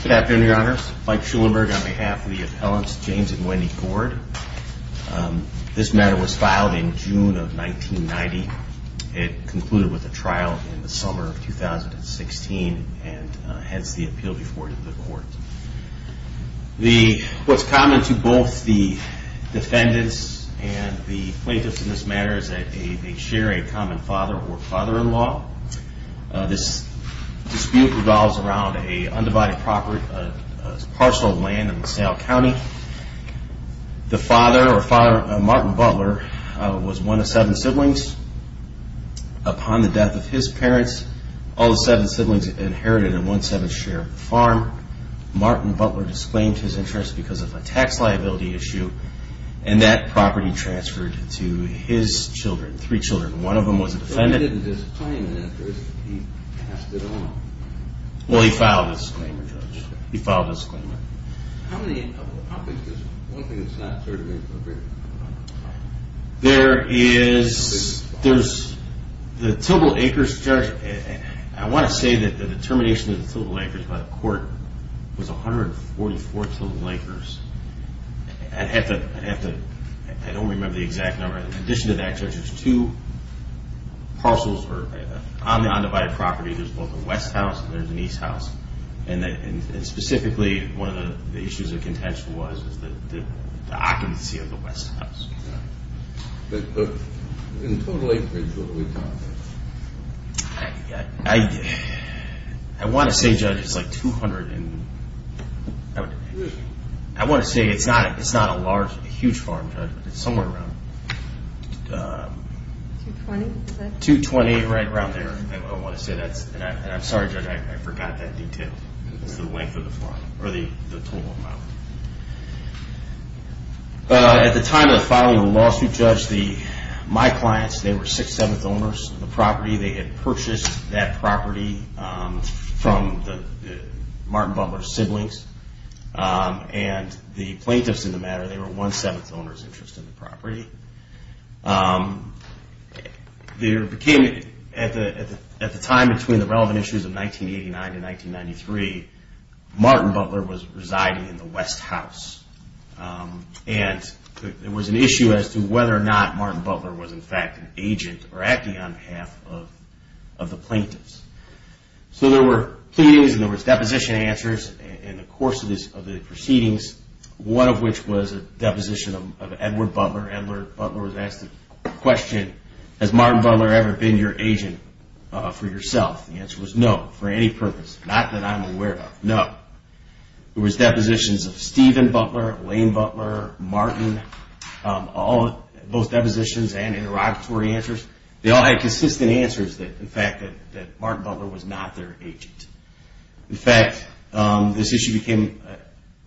Good afternoon, your honors. Mike Schulenburg on behalf of the appellants James and Wendy It concluded with a trial in the summer of 2016 and hence the appeal before the court. What's common to both the defendants and the plaintiffs in this matter is that they share a common father or father-in-law. This dispute revolves around an undivided parcel of land in LaSalle County. The father or father, Martin Butler, was one of seven siblings. Upon the death of his parents, all the seven siblings inherited and one-seventh share of the farm. Martin Butler disclaimed his interest because of a tax liability issue and that property transferred to his children, three children. One of them was a defendant. He didn't disclaim an interest. He passed it along. Well, he filed a disclaimer, Judge. He filed a disclaimer. How many properties does one thing that's not certified appropriate have? There is, there's, the Tillable Acres, Judge, I want to say that the determination of the Tillable Acres by the court was 144 Tillable Acres. I'd have to, I'd have to, I don't remember the exact number. In addition to that, Judge, there's two parcels on the undivided property. There's both a west house and there's an east house. And specifically, one of the issues of contention was the occupancy of the west house. But in the Tillable Acres, what are we talking about? I, I, I want to say, Judge, it's like 200 and, I want to say it's not, it's not a large, a huge farm, Judge, but it's somewhere around 220, right around there. I want to say that's, and I'm sorry, Judge, I forgot that detail. It's the length of the farm or the total amount. At the time of the filing of the lawsuit, Judge, the, my clients, they were sixth, seventh owners of the property. They had purchased that property from the, Martin Butler's siblings. And the plaintiffs in the matter, they were one-seventh owner's interest in the property. There became, at the, at the time between the relevant issues of 1989 and 1993, Martin Butler was residing in the west house. And there was an issue as to whether or not Martin Butler was in fact an agent or acting on behalf of, of the plaintiffs. So there were pleadings and there was deposition answers in the course of this, of the proceedings, one of which was a deposition of Edward Butler. Butler was asked the question, has Martin Butler ever been your agent for yourself? The answer was no, for any purpose, not that I'm aware of, no. There was depositions of Stephen Butler, Lane Butler, Martin, all, both depositions and interrogatory answers. They all had consistent answers that, in fact, that Martin Butler was not their agent. In fact, this issue became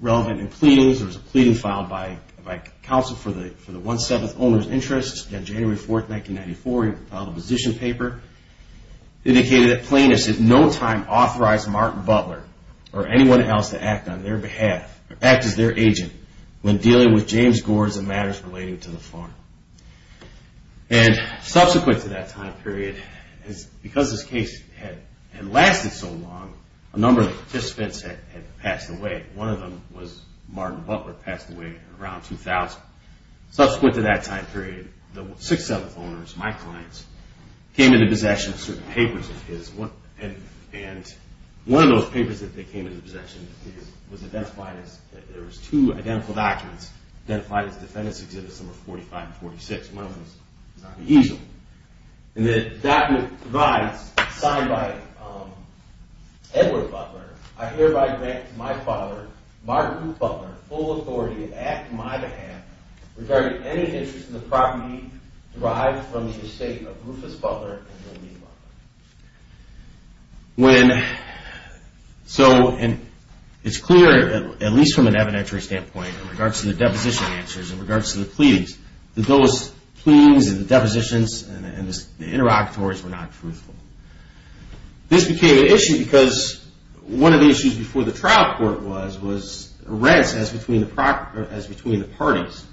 relevant in pleadings. There was a pleading filed by, by counsel for the, for the one-seventh owner's interest on January 4th, 1994. A position paper indicated that plaintiffs at no time authorized Martin Butler or anyone else to act on their behalf, act as their agent when dealing with James Gore's matters relating to the farm. And subsequent to that time period, because this case had lasted so long, a number of participants had passed away. One of them was Martin Butler, passed away around 2000. Subsequent to that time period, the six-seventh owners, my clients, came into possession of certain papers of his. And one of those papers that they came into possession of was identified as, there was two identical documents identified as Defendant's Exhibits Number 45 and 46. And the document provides, signed by Edward Butler, I hereby grant to my father, Martin Butler, full authority to act on my behalf regarding any interest in the property derived from the estate of Rufus Butler and Jolene Butler. When, so, and it's clear, at least from an evidentiary standpoint, in regards to the deposition answers, in regards to the pleadings, that those pleadings and the depositions and the interlocutories were not truthful. This became an issue because one of the issues before the trial court was, was rents as between the parties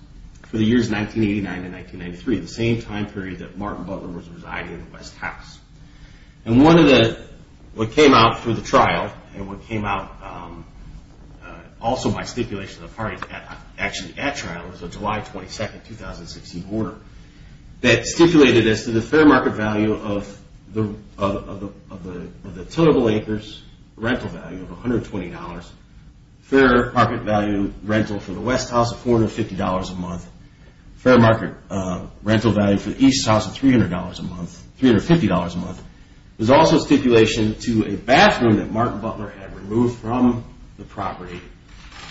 for the years 1989 to 1993, the same time period that Martin Butler was residing in the West House. And one of the, what came out through the trial, and what came out, also by stipulation of the parties actually at trial, was a July 22, 2016 order that stipulated as to the fair market value of the tenable acres, rental value of $120, fair market value rental for the West House of $450 a month, fair market rental value for the East House of $300 a month, $350 a month, was also stipulation to a bathroom that Martin Butler had removed from the property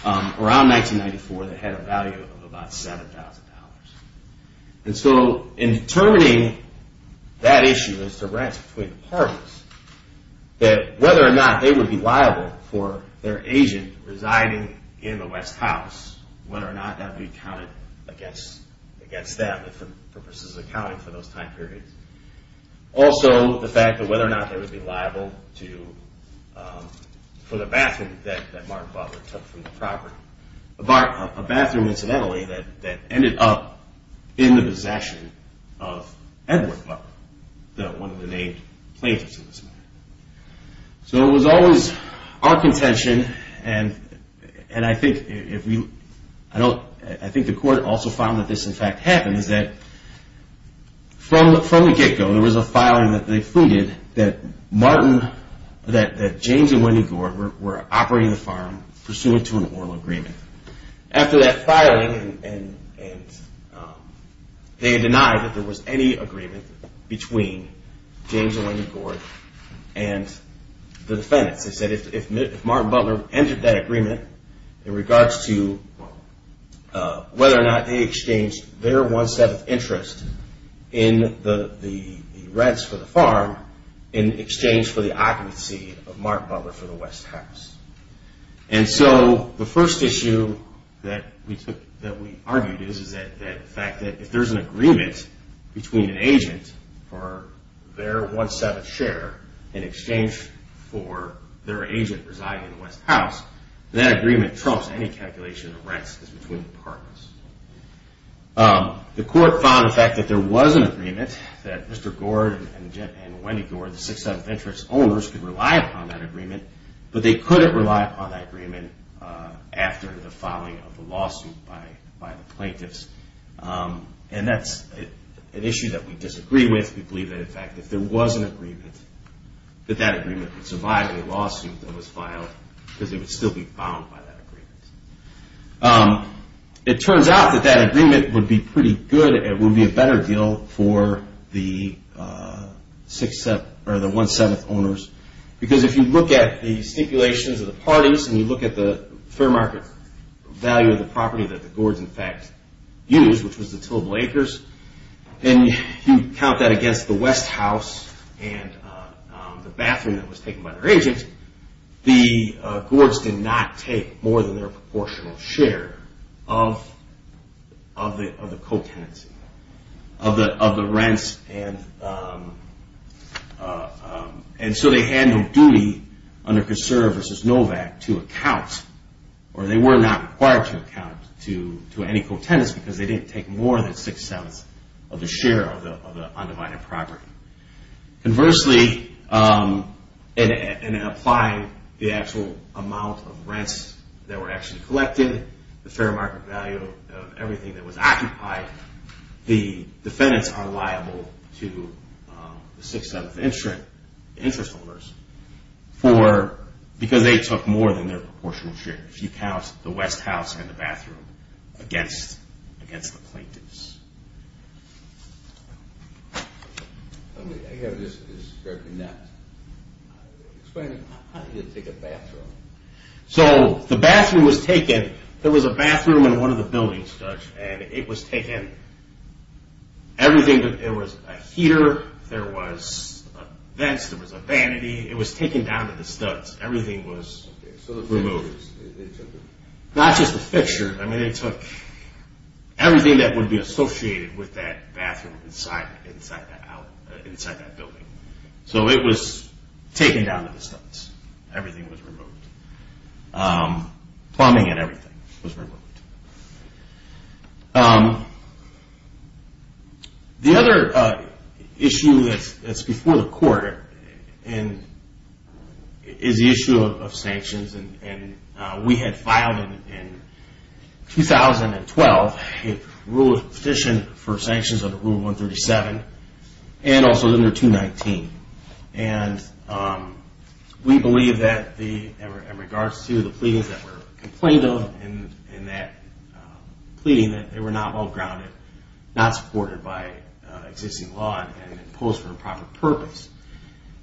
around 1994 that had a value of about $7,000. And so in determining that issue as to rents between the parties, that whether or not they would be liable for their agent residing in the West House, whether or not that would be counted against that, if the purpose is accounting for those time periods. Also the fact that whether or not they would be liable for the bathroom that Martin Butler took from the property. A bathroom incidentally that ended up in the possession of Edward Butler, one of the main plaintiffs in this matter. So it was always our contention, and I think the court also found that this in fact happened, is that from the get-go there was a filing that they fleeted that Martin, that James and Wendy Gore were operating the farm pursuant to an oral agreement. After that filing they denied that there was any agreement between James and Wendy Gore and the defendants. They said if Martin Butler entered that agreement in regards to whether or not they exchanged their one-seventh interest in the rents for the farm in exchange for the occupancy of Martin Butler for the West House. And so the first issue that we argued is that the fact that if there's an agreement between an agent for their one-seventh share in exchange for their agent residing in the West House, that agreement trumps any calculation of rents between the partners. The court found the fact that there was an agreement that Mr. Gore and Wendy Gore, the six-seventh interest owners, could rely upon that agreement, but they couldn't rely upon that agreement after the filing of the lawsuit by the plaintiffs. And that's an issue that we disagree with. We believe that in fact if there was an agreement, that that agreement would survive the lawsuit that was filed because it would still be bound by that agreement. It turns out that that agreement would be pretty good. It would be a better deal for the one-seventh owners. Because if you look at the stipulations of the parties and you look at the fair market value of the property that the Gordes in fact used, which was the Tillable Acres, and you count that against the West House and the bathroom that was taken by their agent, the Gordes did not take more than their proportional share of the co-tenancy, of the rents. And so they had no duty under Conserve v. Novak to account, or they were not required to account to any co-tenants because they didn't take more than six-sevenths of the share of the undivided property. Conversely, in applying the actual amount of rents that were actually collected, the fair market value of everything that was occupied, the defendants are liable to the six-seventh interest owners because they took more than their proportional share. If you count the West House and the bathroom against the plaintiffs. I have this in that. So the bathroom was taken, there was a bathroom in one of the buildings, and it was taken, everything, there was a heater, there was a vent, there was a vanity, it was taken down to the studs. Everything was removed. Not just the fixture. Everything that would be associated with that bathroom inside that building. So it was taken down to the studs. Everything was removed. Plumbing and everything was removed. The other issue that's before the court is the issue of sanctions. We had filed in 2012 a rule of petition for sanctions under Rule 137 and also under 219. We believe that in regards to the pleadings that were complained of in that pleading that they were not well-grounded, not supported by existing law, and imposed for improper purpose.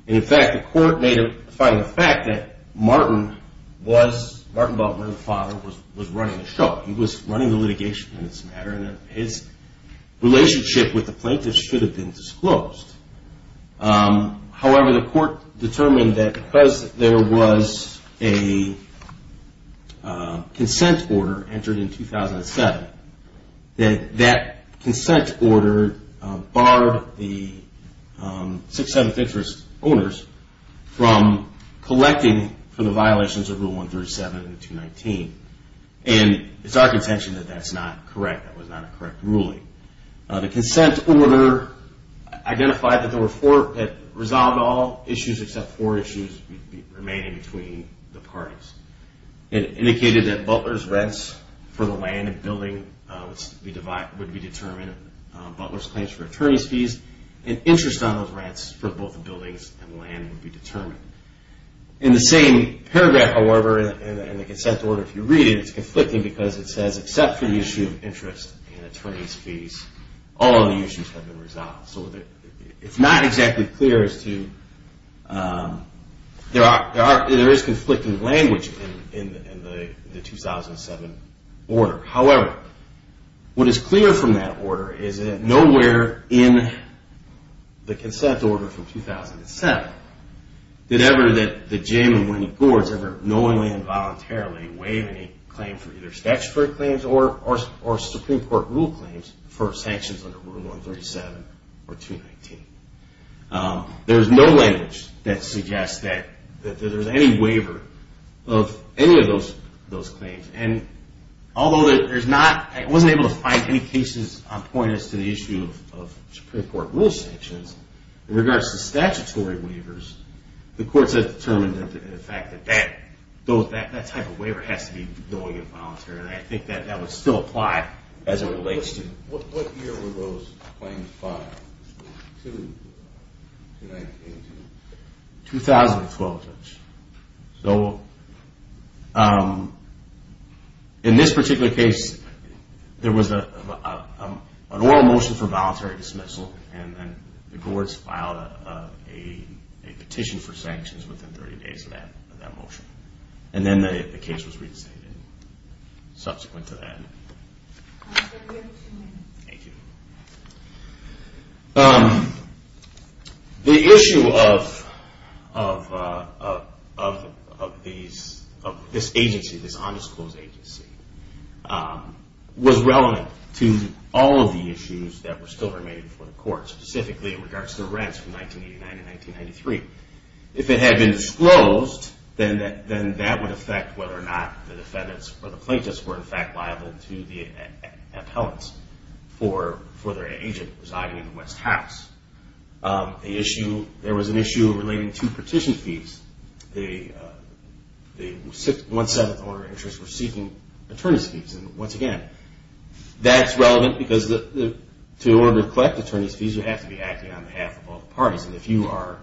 In fact, the court made a finding of fact that Martin was running the show. He was running the litigation in this matter, and his relationship with the plaintiffs should have been disclosed. However, the court determined that because there was a consent order entered in 2007, that that consent order barred the 6th, 7th interest owners from collecting for the violations of Rule 137 and 219. And it's our contention that that's not correct. That was not a correct ruling. The consent order identified that there were four that resolved all issues, except four issues remaining between the parties. It indicated that Butler's rents for the land and building would be determined, Butler's claims for attorney's fees, and interest on those rents for both the buildings and land would be determined. In the same paragraph, however, in the consent order, if you read it, it's conflicting because it says, except for the issue of interest and attorney's fees, all other issues have been resolved. So it's not exactly clear as to... There is conflicting language in the 2007 order. However, what is clear from that order is that nowhere in the consent order from 2007 did ever the Jim and Winnie Gords ever knowingly and voluntarily waive any claim for either statutory claims or Supreme Court rule claims for sanctions under Rule 137 or 219. There's no language that suggests that there's any waiver of any of those claims. Although I wasn't able to find any cases on point as to the issue of Supreme Court rule sanctions, in regards to statutory waivers, the courts have determined the fact that that type of waiver has to be knowingly and voluntarily. I think that would still apply as it relates to... What year were those claims filed? 2012. So in this particular case, there was an oral motion for voluntary dismissal, and then the courts filed a petition for sanctions within 30 days of that motion. And then the case was reinstated subsequent to that. Thank you. The issue of this agency, this undisclosed agency, was relevant to all of the issues that were still remaining before the courts, specifically in regards to the rents from 1989 to 1993. If it had been disclosed, then that would affect whether or not the defendants or the plaintiffs were in fact liable to the appellants for their agent residing in the West House. There was an issue relating to petition fees. The 1-7th order of interest were seeking attorney's fees. And once again, that's relevant because to order to collect attorney's fees, you have to be acting on behalf of all the parties. And if you are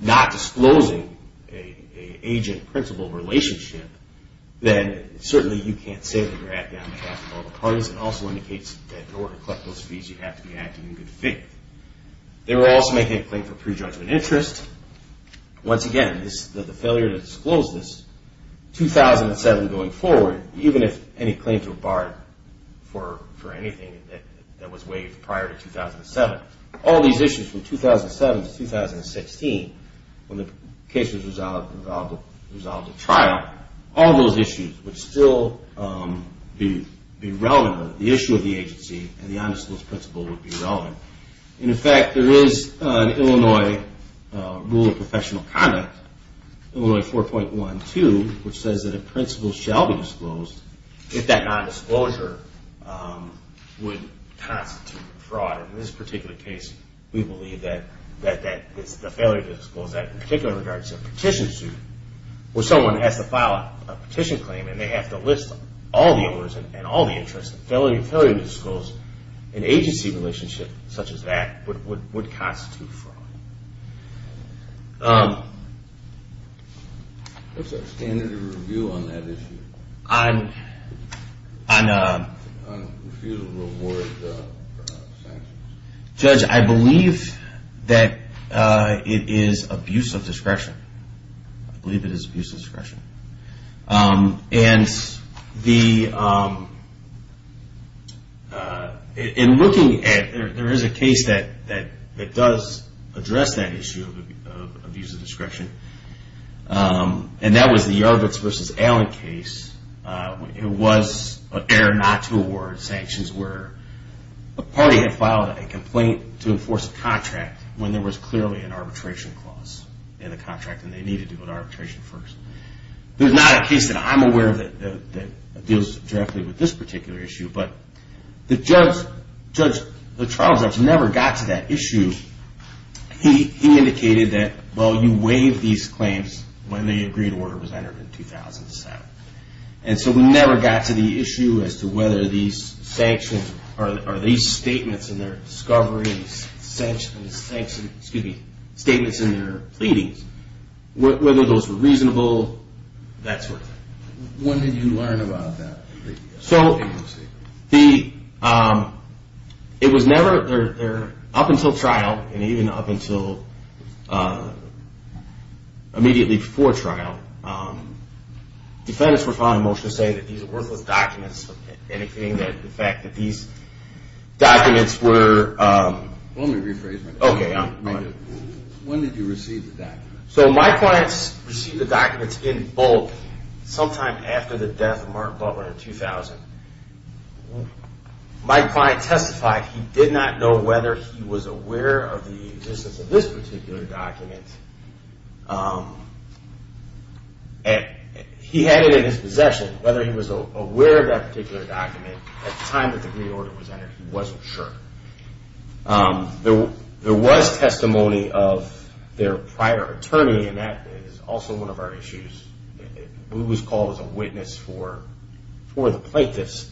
not disclosing an agent-principal relationship, then certainly you can't say that you're acting on behalf of all the parties. It also indicates that to order to collect those fees, you have to be acting in good faith. They were also making a claim for prejudgment interest. Once again, the failure to disclose this, 2007 going forward, even if any claims were barred for anything that was waived prior to 2007. All these issues from 2007 to 2016, when the case was resolved at trial, all those issues would still be relevant. The issue of the agency and the undisclosed principal would be relevant. In fact, there is an Illinois rule of professional conduct, Illinois 4.12, which says that a principal shall be disclosed if that nondisclosure would constitute fraud. In this particular case, we believe that the failure to disclose that in particular in regards to a petition suit, where someone has to file a petition claim and they have to list all the orders and all the interest, the failure to disclose an agency relationship such as that would constitute fraud. What's our standard of review on that issue? Refusal to award sanctions. Judge, I believe that it is abuse of discretion. I believe it is abuse of discretion. In looking at, there is a case that does address that issue of abuse of discretion. And that was the Yarvitz v. Allen case. It was an error not to award sanctions where a party had filed a complaint to enforce a contract when there was clearly an arbitration clause in the contract and they needed to go to arbitration first. There's not a case that I'm aware of that deals directly with this particular issue, but the trial judge never got to that issue. He indicated that, well, you waived these claims when the agreed order was entered in 2007. And so we never got to the issue as to whether these sanctions, or these statements in their discovery and sanctions, excuse me, statements in their pleadings, whether those were reasonable, that sort of thing. When did you learn about that? It was never, up until trial, and even up until immediately before trial, defendants were filed a motion to say that these are worthless documents, indicating the fact that these documents were... Let me rephrase my question. When did you receive the documents? So my clients received the documents in bulk sometime after the death of Martin Butler in 2000. My client testified he did not know whether he was aware of the existence of this particular document. He had it in his possession. Whether he was aware of that particular document at the time that the agreed order was entered, he wasn't sure. There was testimony of their prior attorney, and that is also one of our issues. We was called as a witness for the plaintiffs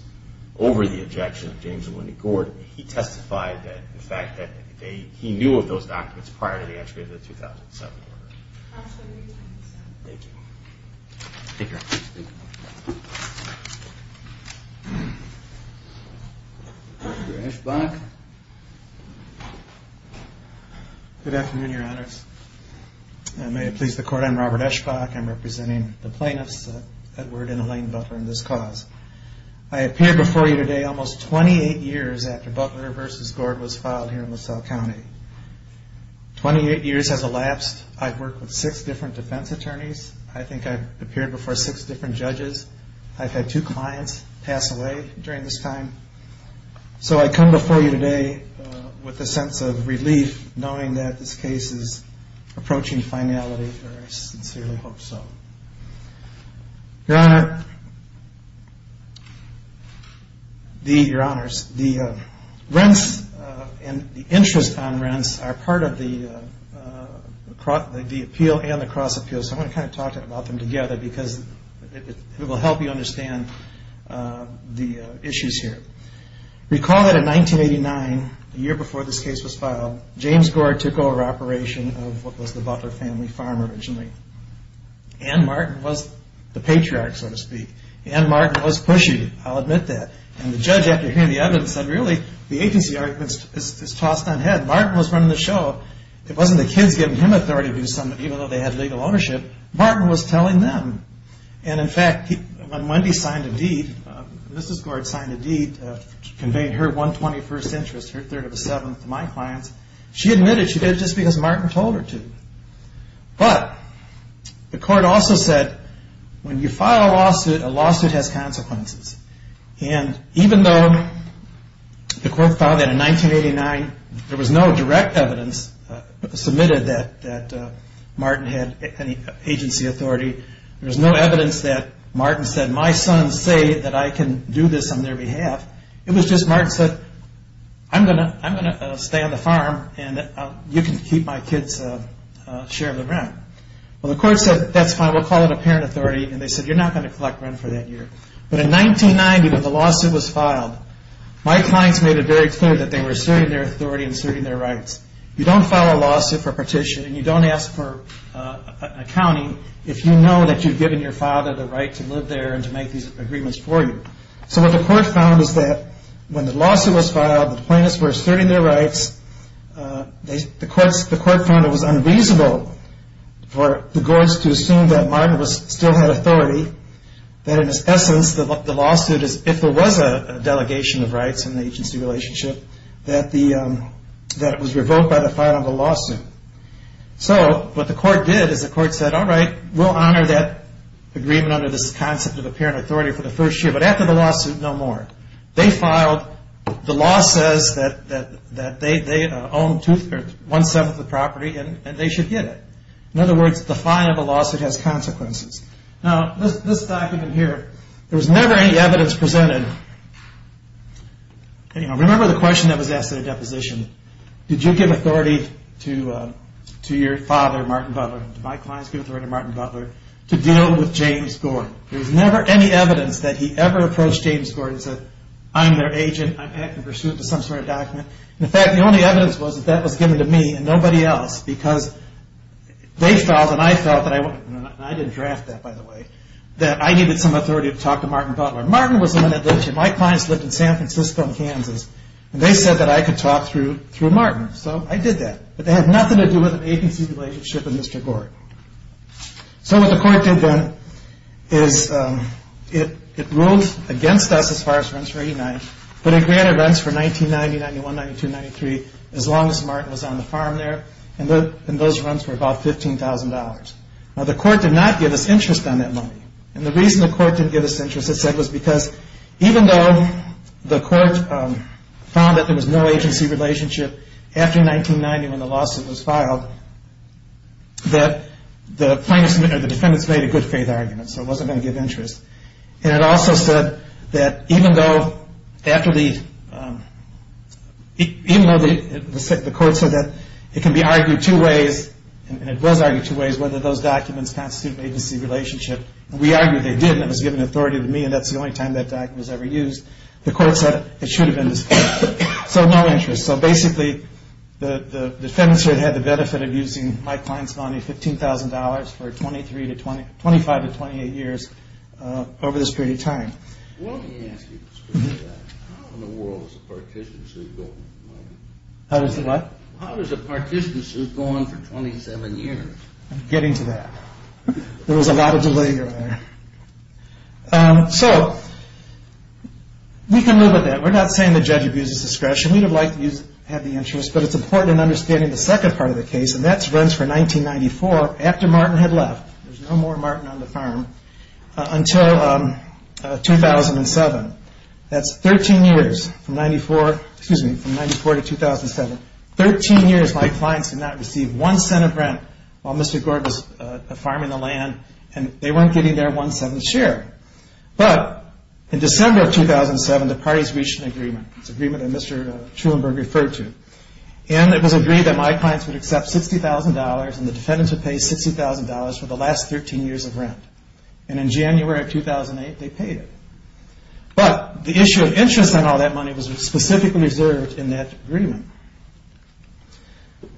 over the objection of James and Wendy Gordon. He testified that in fact he knew of those documents prior to the entry of the 2007 order. Thank you. Robert Eschbach. Good afternoon, Your Honors. May it please the Court, I'm Robert Eschbach. I'm representing the plaintiffs, Edward and Elaine Butler, in this cause. I appear before you today almost 28 years after Butler v. Gord was filed here in LaSalle County. 28 years has elapsed. I've worked with six different defense attorneys. I think I've appeared before six different judges. I've had two clients pass away during this time. So I come before you today with a sense of relief knowing that this case is approaching finality, or I sincerely hope so. Your Honor. Your Honors, the rents and the interest on rents are part of the appeal and the cross appeals. I want to kind of talk about them together because it will help you understand the issues here. Recall that in 1989, a year before this case was filed, James Gord took over operation of what was the Butler family farm originally. Ann Martin was the patriarch, so to speak. Ann Martin was pushy, I'll admit that. And the judge after hearing the evidence said, really, the agency argument is tossed on head. Martin was running the show. It wasn't the kids giving him authority to do something, even though they had legal ownership. Martin was telling them. And in fact, when Wendy signed a deed, Mrs. Gord signed a deed to convey her 121st interest, her third of a seventh, to my clients, she admitted she did it just because Martin told her to. But the court also said, when you file a lawsuit, a lawsuit has consequences. And even though the court found that in 1989 there was no direct evidence submitted that Martin had any agency authority, there was no evidence that Martin said, my sons say that I can do this on their behalf. It was just Martin said, I'm going to stay on the farm and you can keep my kids' share of the rent. Well, the court said, that's fine, we'll call it a parent authority. And they said, you're not going to collect rent for that year. But in 1990, when the lawsuit was filed, my clients made it very clear that they were asserting their authority and asserting their rights. You don't file a lawsuit for a petition and you don't ask for an accounting if you know that you've given your father the right to live there and to make these agreements for you. So what the court found is that when the lawsuit was filed, the plaintiffs were asserting their rights, the court found it was unreasonable for the Gord's to assume that Martin still had authority, that in its essence the lawsuit, if there was a delegation of rights in the agency relationship, that it was revoked by the final of the lawsuit. So what the court did is the court said, alright, we'll honor that agreement under this concept of a parent authority for the first year, but after the lawsuit, no more. They filed, the law says that they own one-seventh of the property and they should get it. In other words, the final of the lawsuit has consequences. Now this document here, there was never any evidence presented remember the question that was asked in the deposition, did you give authority to your father, Martin Butler, did my clients give authority to Martin Butler to deal with James Gord? There was never any evidence that he ever approached James Gord that I'm their agent, I'm acting pursuant to some sort of document. In fact, the only evidence was that that was given to me and nobody else because they filed and I filed, and I didn't draft that by the way, that I needed some authority to talk to Martin Butler. Martin was the one that lived here. My clients lived in San Francisco and Kansas and they said that I could talk through Martin. So I did that, but they had nothing to do with an agency relationship with Mr. Gord. So what the court did then is it ruled against us as far as rents for 89, but it granted rents for 1990, 91, 92, 93 as long as Martin was on the farm there and those rents were about $15,000. Now the court did not give us interest on that money and the reason the court didn't give us interest it said was because even though the court found that there was no agency relationship after 1990 when the lawsuit was filed, that the plaintiffs or the defendants made a good faith argument, so it wasn't going to give interest. And it also said that even though after the court said that it can be argued two ways, and it was argued two ways, whether those documents constitute an agency relationship. We argued they did and it was given authority to me and that's the only time that document was ever used. The court said it should have been disputed, so no interest. So basically the defendants had the benefit of using my client's money, $15,000 for 25 to 28 years over this period of time. Let me ask you, how in the world is a partition suit going? How does the what? How does a partition suit go on for 27 years? I'm getting to that. There was a lot of delay there. So we can live with that. We're not saying the judge abuses discretion. We'd have liked to have the interest, but it's important in understanding the second part of the case and that runs from 1994 after Martin had left. There's no more Martin on the farm until 2007. That's 13 years from 94 to 2007. 13 years my clients did not receive one cent of rent while Mr. Gord was farming the land and they weren't getting their one-seventh share. But in December of 2007, the parties reached an agreement. It's an agreement that Mr. Truenberg referred to. And it was agreed that my clients would accept $60,000 and the defendants would pay $60,000 for the last 13 years of rent. And in January of 2008, they paid it. But the issue of interest on all that money was specifically reserved in that agreement.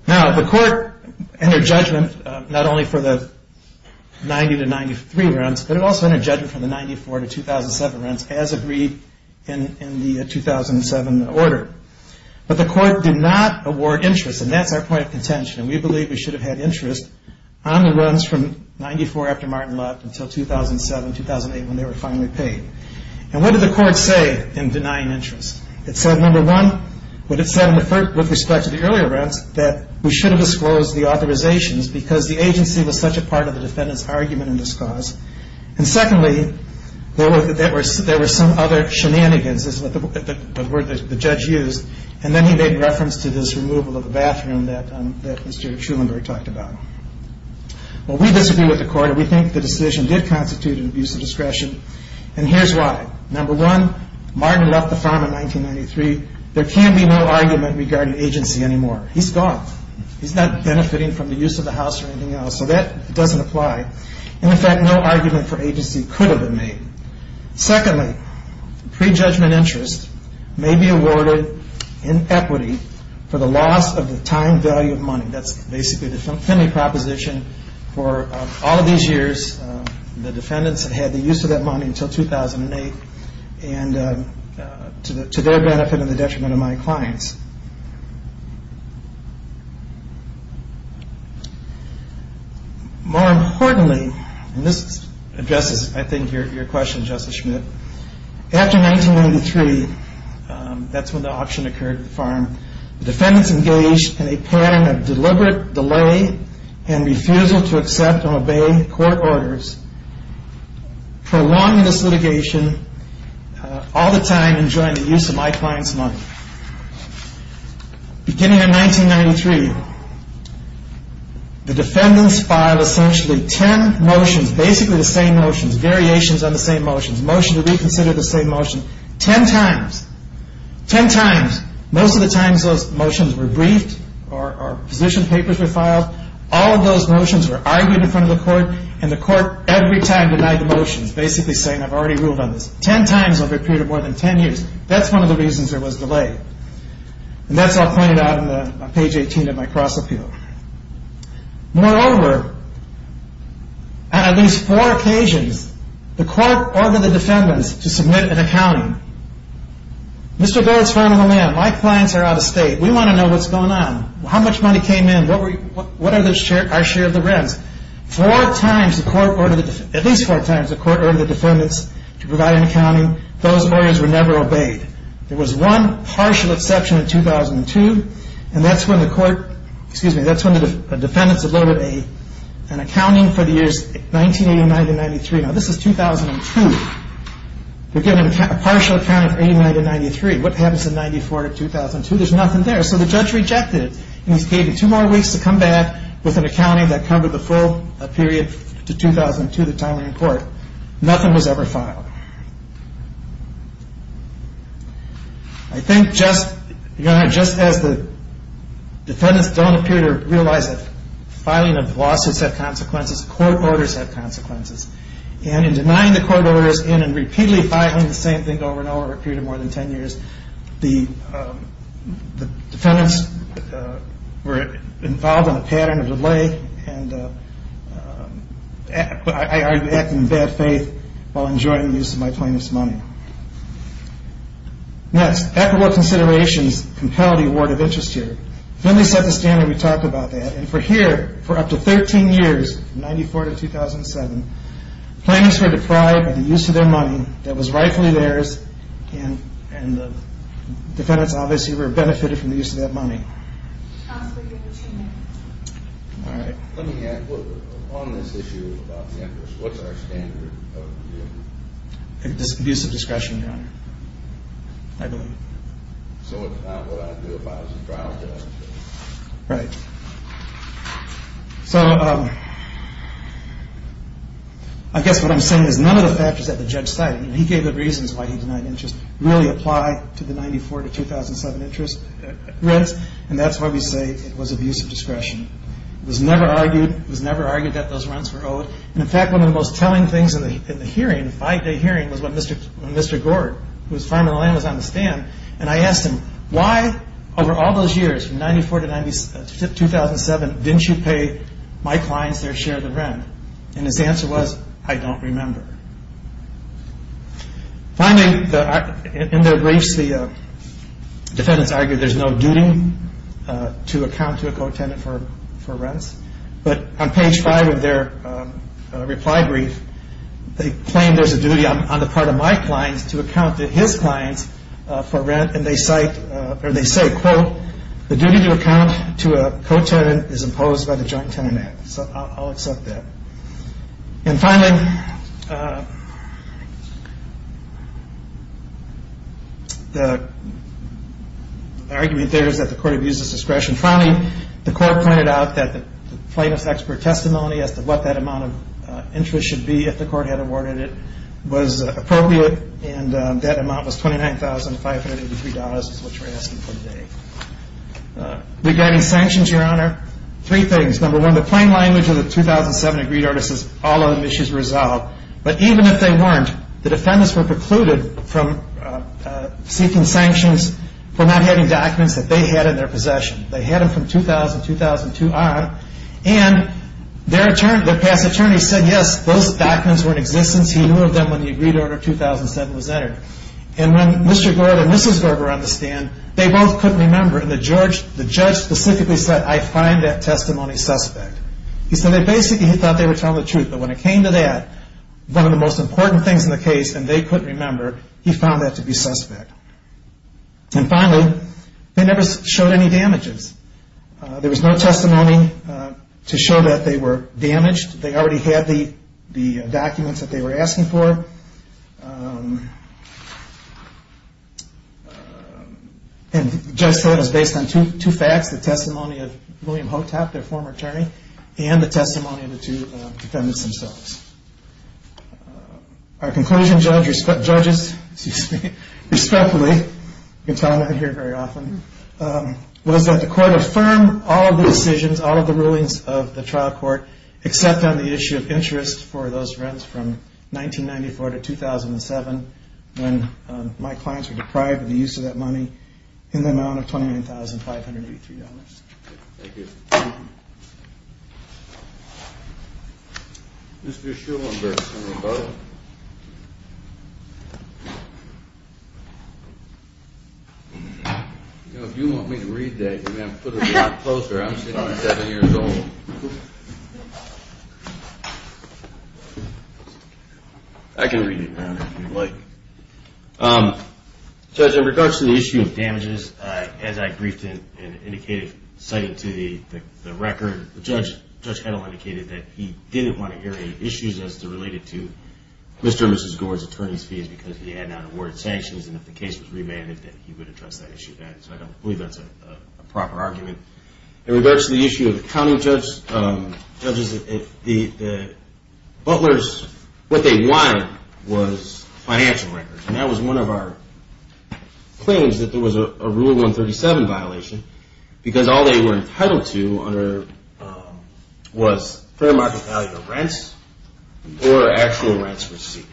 Now, the court entered judgment not only for the 90 to 93 rents, but it also entered judgment for the 94 to 2007 rents as agreed in the 2007 order. But the court did not award interest, and that's our point of contention. And we believe we should have had interest on the rent. And what did the court say in denying interest? It said, number one, what it said with respect to the earlier rents, that we should have disclosed the authorizations because the agency was such a part of the defendant's argument in this cause. And secondly, there were some other shenanigans that the judge used. And then he made reference to this removal of the bathroom that Mr. Truenberg talked about. Well, we disagree with the court, and we think the decision did constitute an abuse of discretion. And here's why. Number one, Martin left the farm in 1993. There can be no argument regarding agency anymore. He's gone. He's not benefiting from the use of the house or anything else. So that doesn't apply. And in fact, no argument for agency could have been made. Secondly, prejudgment interest may be awarded in equity for the loss of the time value of money. That's basically the Fenley proposition for all of these years. The defendants had the use of that money until 2008, and to their benefit and the detriment of my clients. More importantly, and this addresses, I think, your question, the defendants engaged in a pattern of deliberate delay and refusal to accept and obey court orders, prolonging this litigation all the time and enjoying the use of my clients' money. Beginning in 1993, the defendants filed essentially ten motions, basically the same motions, variations on the same motions. Motion to reconsider the same motion. Ten times. Ten times. Most of the times those motions were briefed or position papers were filed. All of those motions were argued in front of the court, and the court every time denied the motions, basically saying I've already ruled on this. Ten times over a period of more than ten years. That's one of the reasons there was delay. And that's all pointed out on page 18 of my cross appeal. Moreover, on at least four occasions, the court ordered the defendants to submit an accounting. Mr. Baird's phone number, ma'am, my clients are out of state. We want to know what's going on. How much money came in? What are our share of the rents? Four times, at least four times, the court ordered the defendants to provide an accounting. Those orders were never obeyed. There was one partial exception in 2002, and that's when the court, excuse me, that's when the defendants uploaded an accounting for the years 1989 to 1993. Now this is 2002. We're getting a partial account of 89 to 93. What happens in 94 to 2002? There's nothing there. So the judge rejected it, and he gave you two more weeks to come back with an accounting that covered the full period to 2002, the time we're in court. Nothing was ever filed. I think just, you know, just as the defendants don't appear to realize that filing of lawsuits have consequences, court orders have consequences. And in denying the court orders and in repeatedly filing the same thing over and over for a period of more than 10 years, the defendants were involved in a pattern of delay, and I act in bad faith while enjoying the use of my plaintiff's money. Next, equitable considerations compel the award of interest here. Finley set the standard when we talked about that, and for here, for up to 13 years, 94 to 2007, plaintiffs were deprived of the use of their money that was rightfully theirs, and the defendants obviously were benefited from the use of that money. All right. Let me ask, on this issue about the interest, what's our standard of view? Abusive discretion, Your Honor. I believe. So it's not what I'd do if I was a trial judge? Right. So I guess what I'm saying is none of the factors that the judge cited, and he gave the reasons why he denied interest, really apply to the 94 to 2007 interest rents, and that's why we say it was abusive discretion. It was never argued that those rents were owed, and in fact, one of the most telling things in the hearing, the five-day hearing, was when Mr. Gord, who was farming the land, was on the stand, and I asked him, why, over all those years, from 94 to 2007, didn't you pay my clients their share of the rent? And his answer was, I don't remember. Finally, in their briefs, the defendants argue there's no duty to account to a co-tenant for rents, but on page five of their reply brief, they claim there's a duty on the part of my clients to account to his clients for rent, and they say, quote, the duty to account to a co-tenant is imposed by the Joint Tenant Act. So I'll accept that. And finally, the argument there is that the court abuses discretion. Finally, the court pointed out that the plaintiff's expert testimony as to what that amount of interest should be if the court had awarded it was appropriate, and that amount was $29,583 is what you're asking for today. Regarding sanctions, Your Honor, three things. Number one, the plain language of the 2007 agreed order says all other issues were resolved, but even if they weren't, the defendants were precluded from seeking sanctions for not having documents that they had in their possession. They had them from 2000, 2002 on, and their past attorney said, yes, those documents were in existence. He knew of them when the agreed order of 2007 was entered. And when Mr. Gord and Mrs. Gord were on the stand, they both couldn't remember, and the judge specifically said, I find that testimony suspect. He said they basically thought they were telling the truth, but when it came to that, one of the most important things in the case, and they couldn't remember, he found that to be suspect. And finally, they never showed any damages. There was no testimony to show that they were damaged. They already had the documents that they were asking for. And the judge said it was based on two facts, the testimony of William Hotop, their former attorney, and the testimony of the two defendants themselves. Our conclusion, judges, respectfully, you can tell I'm not here very often, was that the court affirmed all of the decisions, all of the rulings of the trial court, except on the issue of interest for those rents from 1994 to 2007, when my clients were deprived of the use of that money in the amount of $29,583. Thank you. Mr. Schulenberg. If you want me to read that, put it closer, I'm seven years old. I can read it now if you'd like. Judge, in regards to the issue of damages, as I briefed and indicated, citing to the record, Judge Kettle indicated that he didn't want to hear any issues as related to Mr. and Mrs. Gore's attorney's fees, because he had not awarded sanctions, and if the case was remanded, he would address that issue then, so I don't believe that's a proper argument. In regards to the issue of accounting, judges, the Butlers, what they wanted was financial records, and that was one of our claims, that there was a Rule 137 violation, because all they were entitled to was fair market value of rents, or actual rents received,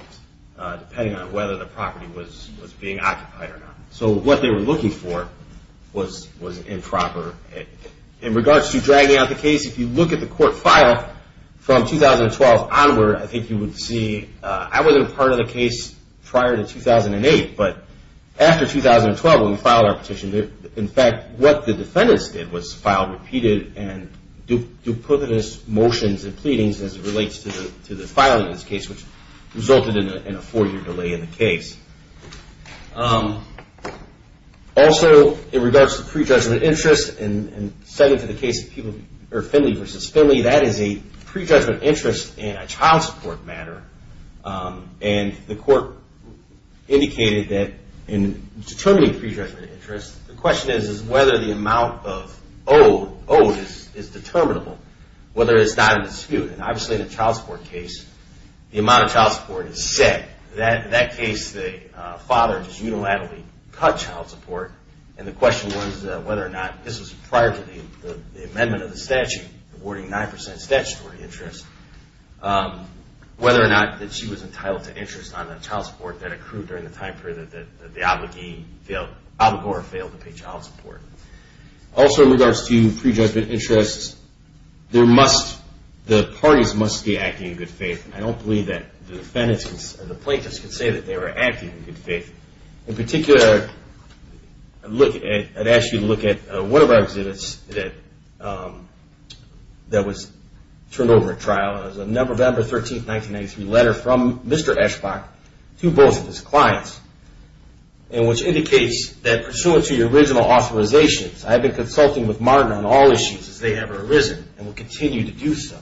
depending on whether the property was being occupied or not. So what they were looking for was improper. In regards to dragging out the case, if you look at the court file from 2012 onward, I think you would see, I wasn't a part of the case prior to 2008, but after 2012, when we filed our petition, in fact, what the defendants did was file repeated and duplicitous motions and pleadings as it relates to the filing of this case, which resulted in a four-year delay in the case. Also, in regards to prejudgment interest, and second to the case of Finley v. Finley, that is a prejudgment interest in a child support matter, and the court indicated that in determining prejudgment interest, the question is whether the amount owed is determinable, whether it's not in dispute, and obviously in a child support case, the amount of child support is set. In that case, the father just unilaterally cut child support, and the question was whether or not, this was prior to the amendment of the statute, awarding 9% statutory interest, whether or not she was entitled to interest on the child support that accrued during the time period that the abogee failed to pay child support. Also, in regards to prejudgment interest, the parties must be acting in good faith. I don't believe that the plaintiffs can say that they were acting in good faith. In particular, I'd ask you to look at one of our exhibits that was turned over at trial. It was a November 13, 1993 letter from Mr. Eschbach to both of his clients, which indicates that, pursuant to your original authorizations, I have been consulting with Martin on all issues as they have arisen and will continue to do so.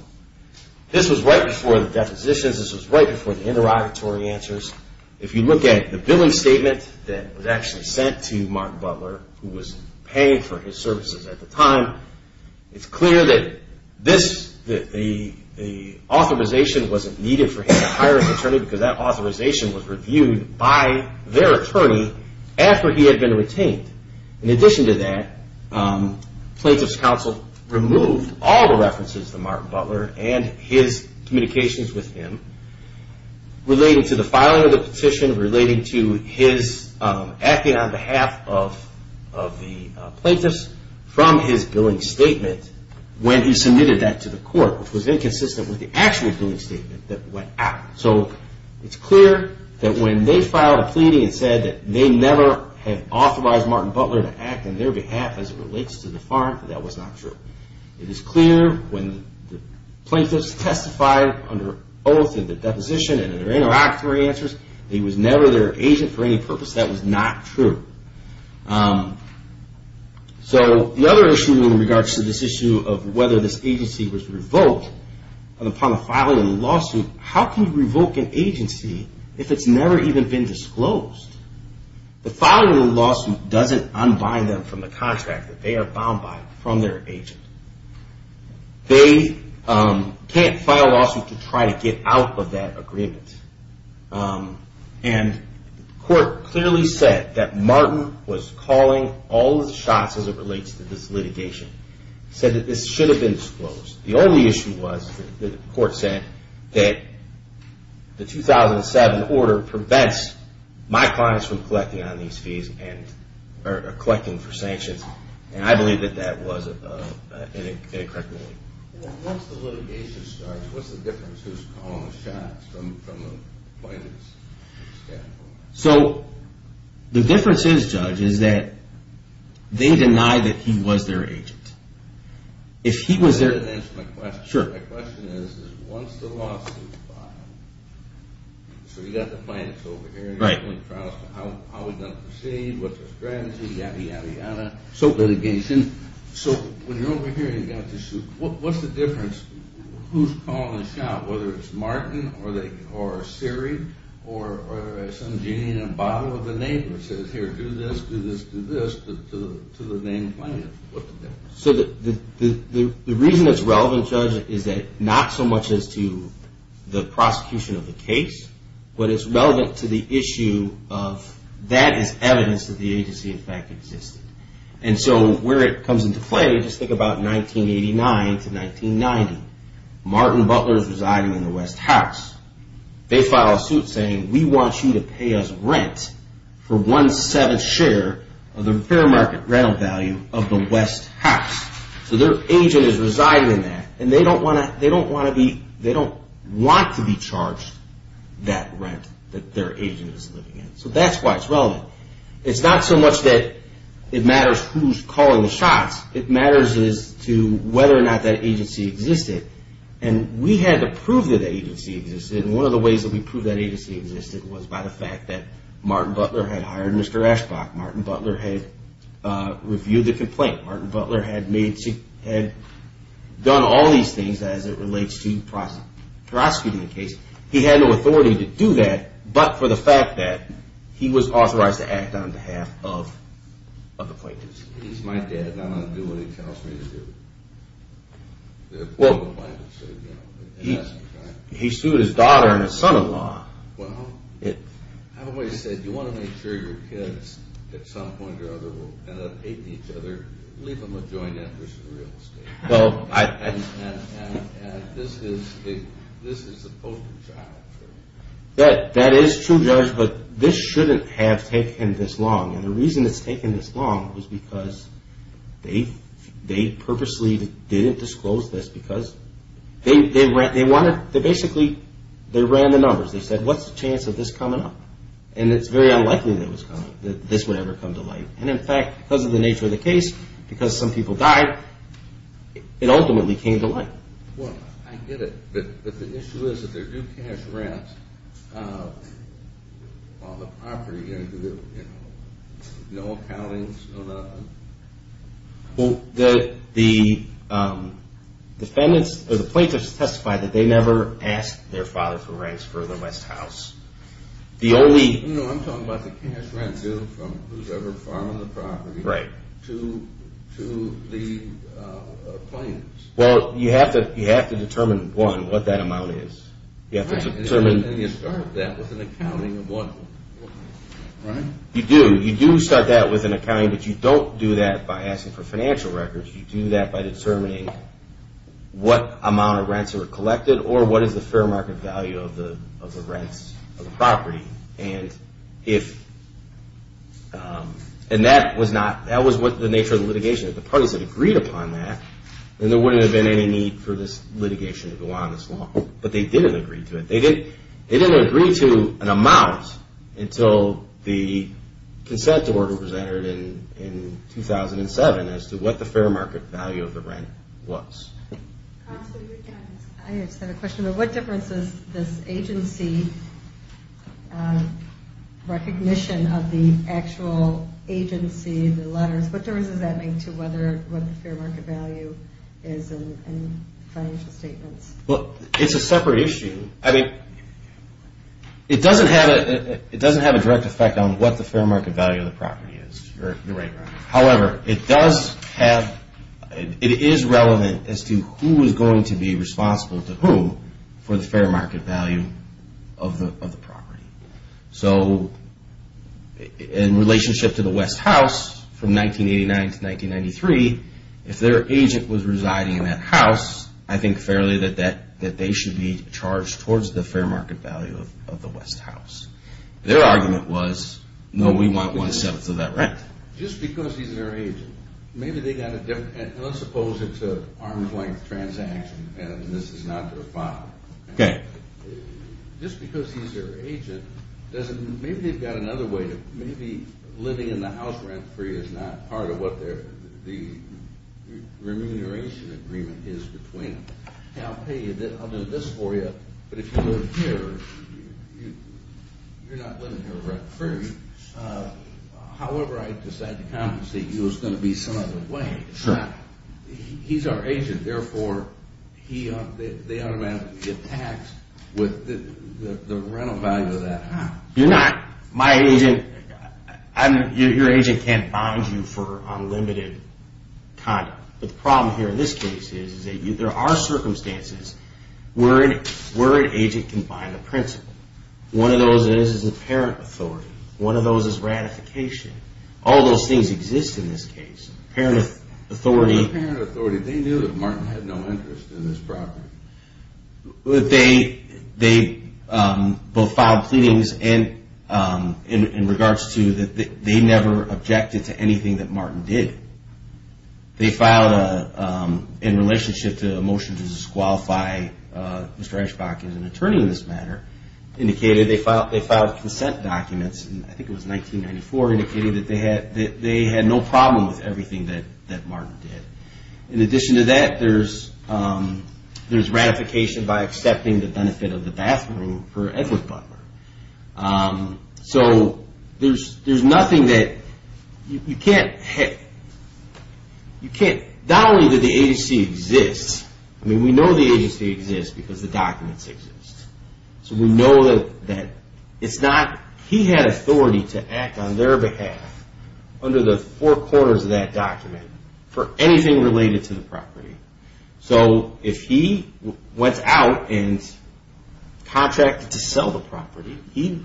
This was right before the depositions. This was right before the interrogatory answers. If you look at the billing statement that was actually sent to Martin Butler, who was paying for his services at the time, it's clear that the authorization wasn't needed for him to hire an attorney because that authorization was reviewed by their attorney after he had been retained. In addition to that, plaintiff's counsel removed all the references to Martin Butler and his communications with him relating to the filing of the petition, relating to his acting on behalf of the plaintiffs from his billing statement when he submitted that to the court, which was inconsistent with the actual billing statement that went out. So it's clear that when they filed a pleading and said that they never had authorized Martin Butler to act on their behalf as it relates to the farm, that that was not true. It is clear when the plaintiffs testified under oath in the deposition and in their interrogatory answers that he was never their agent for any purpose. That was not true. So the other issue in regards to this issue of whether this agency was revoked upon the filing of the lawsuit, how can you revoke an agency if it's never even been disclosed? The filing of the lawsuit doesn't unbind them from the contract that they are bound by from their agent. They can't file a lawsuit to try to get out of that agreement. And the court clearly said that Martin was calling all the shots as it relates to this litigation. Said that this should have been disclosed. The only issue was that the court said that the 2007 order prevents my clients from collecting on these fees or collecting for sanctions. And I believe that that was an incorrect ruling. Once the litigation starts, what's the difference who's calling the shots from a plaintiff's standpoint? So the difference is, Judge, is that they deny that he was their agent. My question is, once the lawsuit is filed, so you've got the plaintiffs over here. How are we going to proceed? What's our strategy? Yadda, yadda, yadda. So when you're over here and you've got the suit, what's the difference who's calling the shot? Whether it's Martin or Siri or some genie in a bottle of the neighbor who says, here, do this, do this, do this, to the named plaintiff. So the reason it's relevant, Judge, is that not so much as to the prosecution of the case, but it's relevant to the issue of that is evidence that the agency in fact existed. And so where it comes into play, just think about 1989 to 1990. Martin Butler is residing in the West House. They file a suit saying, we want you to pay us rent for one-seventh share of the fair market rental value of the West House. So their agent is residing in that. And they don't want to be charged that rent that their agent is living in. So that's why it's relevant. It's not so much that it matters who's calling the shots. It matters as to whether or not that agency existed. And we had to prove that that agency existed. And one of the ways that we proved that agency existed was by the fact that Martin Butler had hired Mr. Ashbach. Martin Butler had reviewed the complaint. Martin Butler had done all these things as it relates to prosecuting the case. He had no authority to do that, but for the fact that he was authorized to act on behalf of the plaintiffs. He sued his daughter and his son-in-law. That is true, Judge, but this shouldn't have taken this long. And the reason it's taken this long was because they purposely didn't disclose this because they basically ran the numbers. They said, what's the chance of this coming up? And it's very unlikely that this would ever come to light. And in fact, because of the nature of the case, because some people died, it ultimately came to light. Well, I get it, but the issue is that they're due cash rents on the property. No accountings. The plaintiffs testified that they never asked their father for rents for the West House. No, I'm talking about the cash rent due from whosoever farmed the property to the plaintiffs. Well, you have to determine, one, what that amount is. And you start that with an accounting of one. You do start that with an accounting, but you don't do that by asking for financial records. You do that by determining what amount of rents were collected or what is the fair market value of the rents on the property. And that was the nature of the litigation. If the parties had agreed upon that, then there wouldn't have been any need for this litigation to go on this long. But they didn't agree to it. They didn't agree to an amount until the consent order was entered in 2007 as to what the fair market value of the rent was. I just have a question. What difference does this agency recognition of the actual agency, the letters, what difference does that make to what the fair market value is in financial statements? Well, it's a separate issue. It doesn't have a direct effect on what the fair market value of the property is. However, it is relevant as to who is going to be responsible to whom for the fair market value of the property. So in relationship to the West House, from 1989 to 1993, if their agent was residing in that house, I think fairly that they should be charged towards the fair market value of the West House. Their argument was, no, we want one-seventh of that rent. Just because he's their agent, maybe they got a different... Let's suppose it's an arm's-length transaction and this is not their file. Just because he's their agent, maybe they've got another way to... Maybe living in the house rent-free is not part of what the remuneration agreement is between them. I'll do this for you, but if you live here, you're not living here rent-free. However I decide to compensate you is going to be some other way. He's our agent, therefore they automatically get taxed with the rental value of that house. You're not. There are circumstances where an agent can bind a principal. One of those is the parent authority. One of those is ratification. All those things exist in this case. They knew that Martin had no interest in this property. They both filed pleadings in regards to... They never objected to anything that Martin did. In relationship to a motion to disqualify Mr. Eschbach as an attorney in this matter, they filed consent documents, I think it was 1994, indicating that they had no problem with everything that Martin did. In addition to that, there's ratification by accepting the benefit of the bathroom for Edward Butler. There's nothing that... Not only that the agency exists, we know the agency exists because the documents exist. He had authority to act on their behalf under the four corners of that document for anything related to the property. If he went out and contracted to sell the property,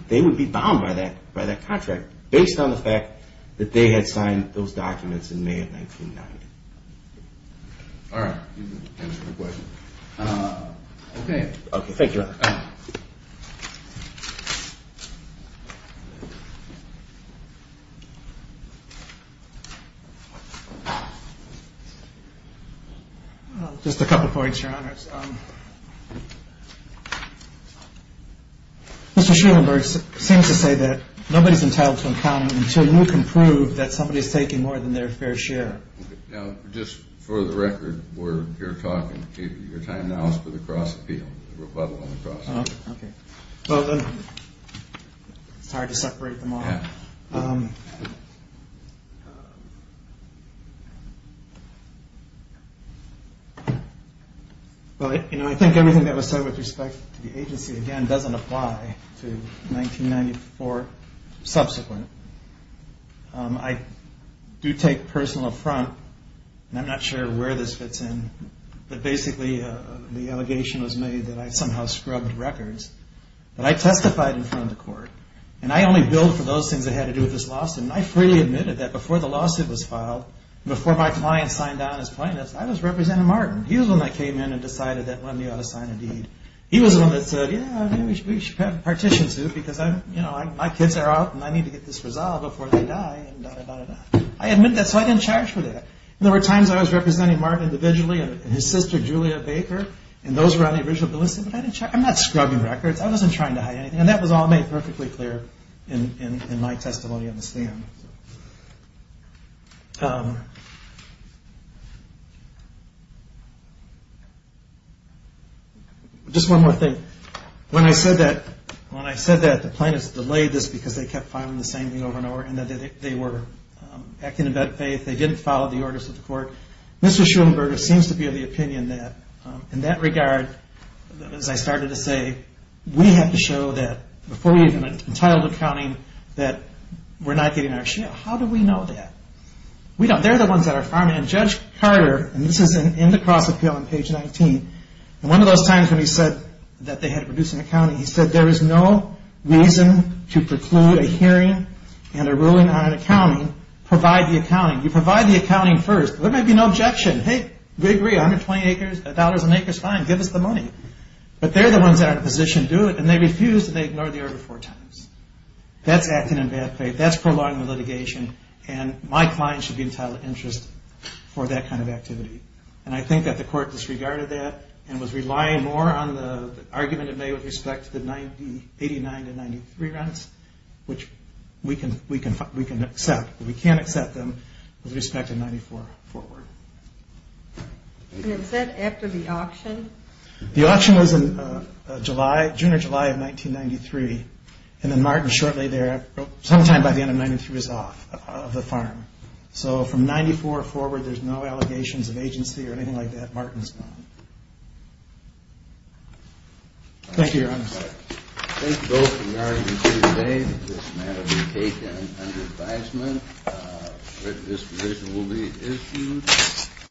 they would be bound by that contract based on the fact that they had signed those documents in May of 1990. Thank you. Just a couple of points, Your Honors. Mr. Schulenburg seems to say that nobody's entitled to an account until you can prove that somebody's taking more than their fair share. Just for the record, we're here talking. Your time now is for the cross-appeal, the rebuttal on the cross-appeal. It's hard to separate them all. Well, I think everything that was said with respect to the agency, again, doesn't apply to 1994 subsequent. I do take personal affront, and I'm not sure where this fits in, but basically the allegation was made that I somehow scrubbed records. But I testified in front of the court, and I only billed for those things that had to do with this lawsuit. I freely admitted that before the lawsuit was filed, before my client signed on as plaintiff, I was representing Martin. He was the one that came in and decided that one of me ought to sign a deed. He was the one that said, yeah, maybe we should have a partition suit because my kids are out, and I need to get this resolved before they die. I admit that, so I didn't charge for that. There were times I was representing Martin individually and his sister, Julia Baker, and those were on the original bill. I'm not scrubbing records. I wasn't trying to hide anything, and that was all made perfectly clear in my testimony on the stand. Just one more thing. When I said that the plaintiffs delayed this because they kept filing the same thing over and over and that they were acting in bad faith, they didn't follow the orders of the court, Mr. Schulenberger seems to be of the opinion that in that regard, as I started to say, we have to show that before we even entitled accounting that we're not getting our share. How do we know that? They're the ones that are farming. Judge Carter, and this is in the cross appeal on page 19, and one of those times when he said that they had to produce an accounting, he said there is no reason to preclude a hearing and a ruling on accounting, provide the accounting. Provide the accounting first. There may be no objection. Hey, $120 an acre is fine. Give us the money. But they're the ones that are in a position to do it, and they refuse, and they ignore the order four times. That's acting in bad faith. That's prolonging the litigation, and my client should be entitled to interest for that kind of activity. And I think that the court disregarded that and was relying more on the argument in May with respect to the 89 to 93 rents, which we can accept, but we can't accept them with respect to 94 forward. And is that after the auction? The auction was in June or July of 1993, and then Martin shortly thereafter, sometime by the end of 93, is off of the farm. So from 94 forward, there's no allegations of agency or anything like that. Martin's gone.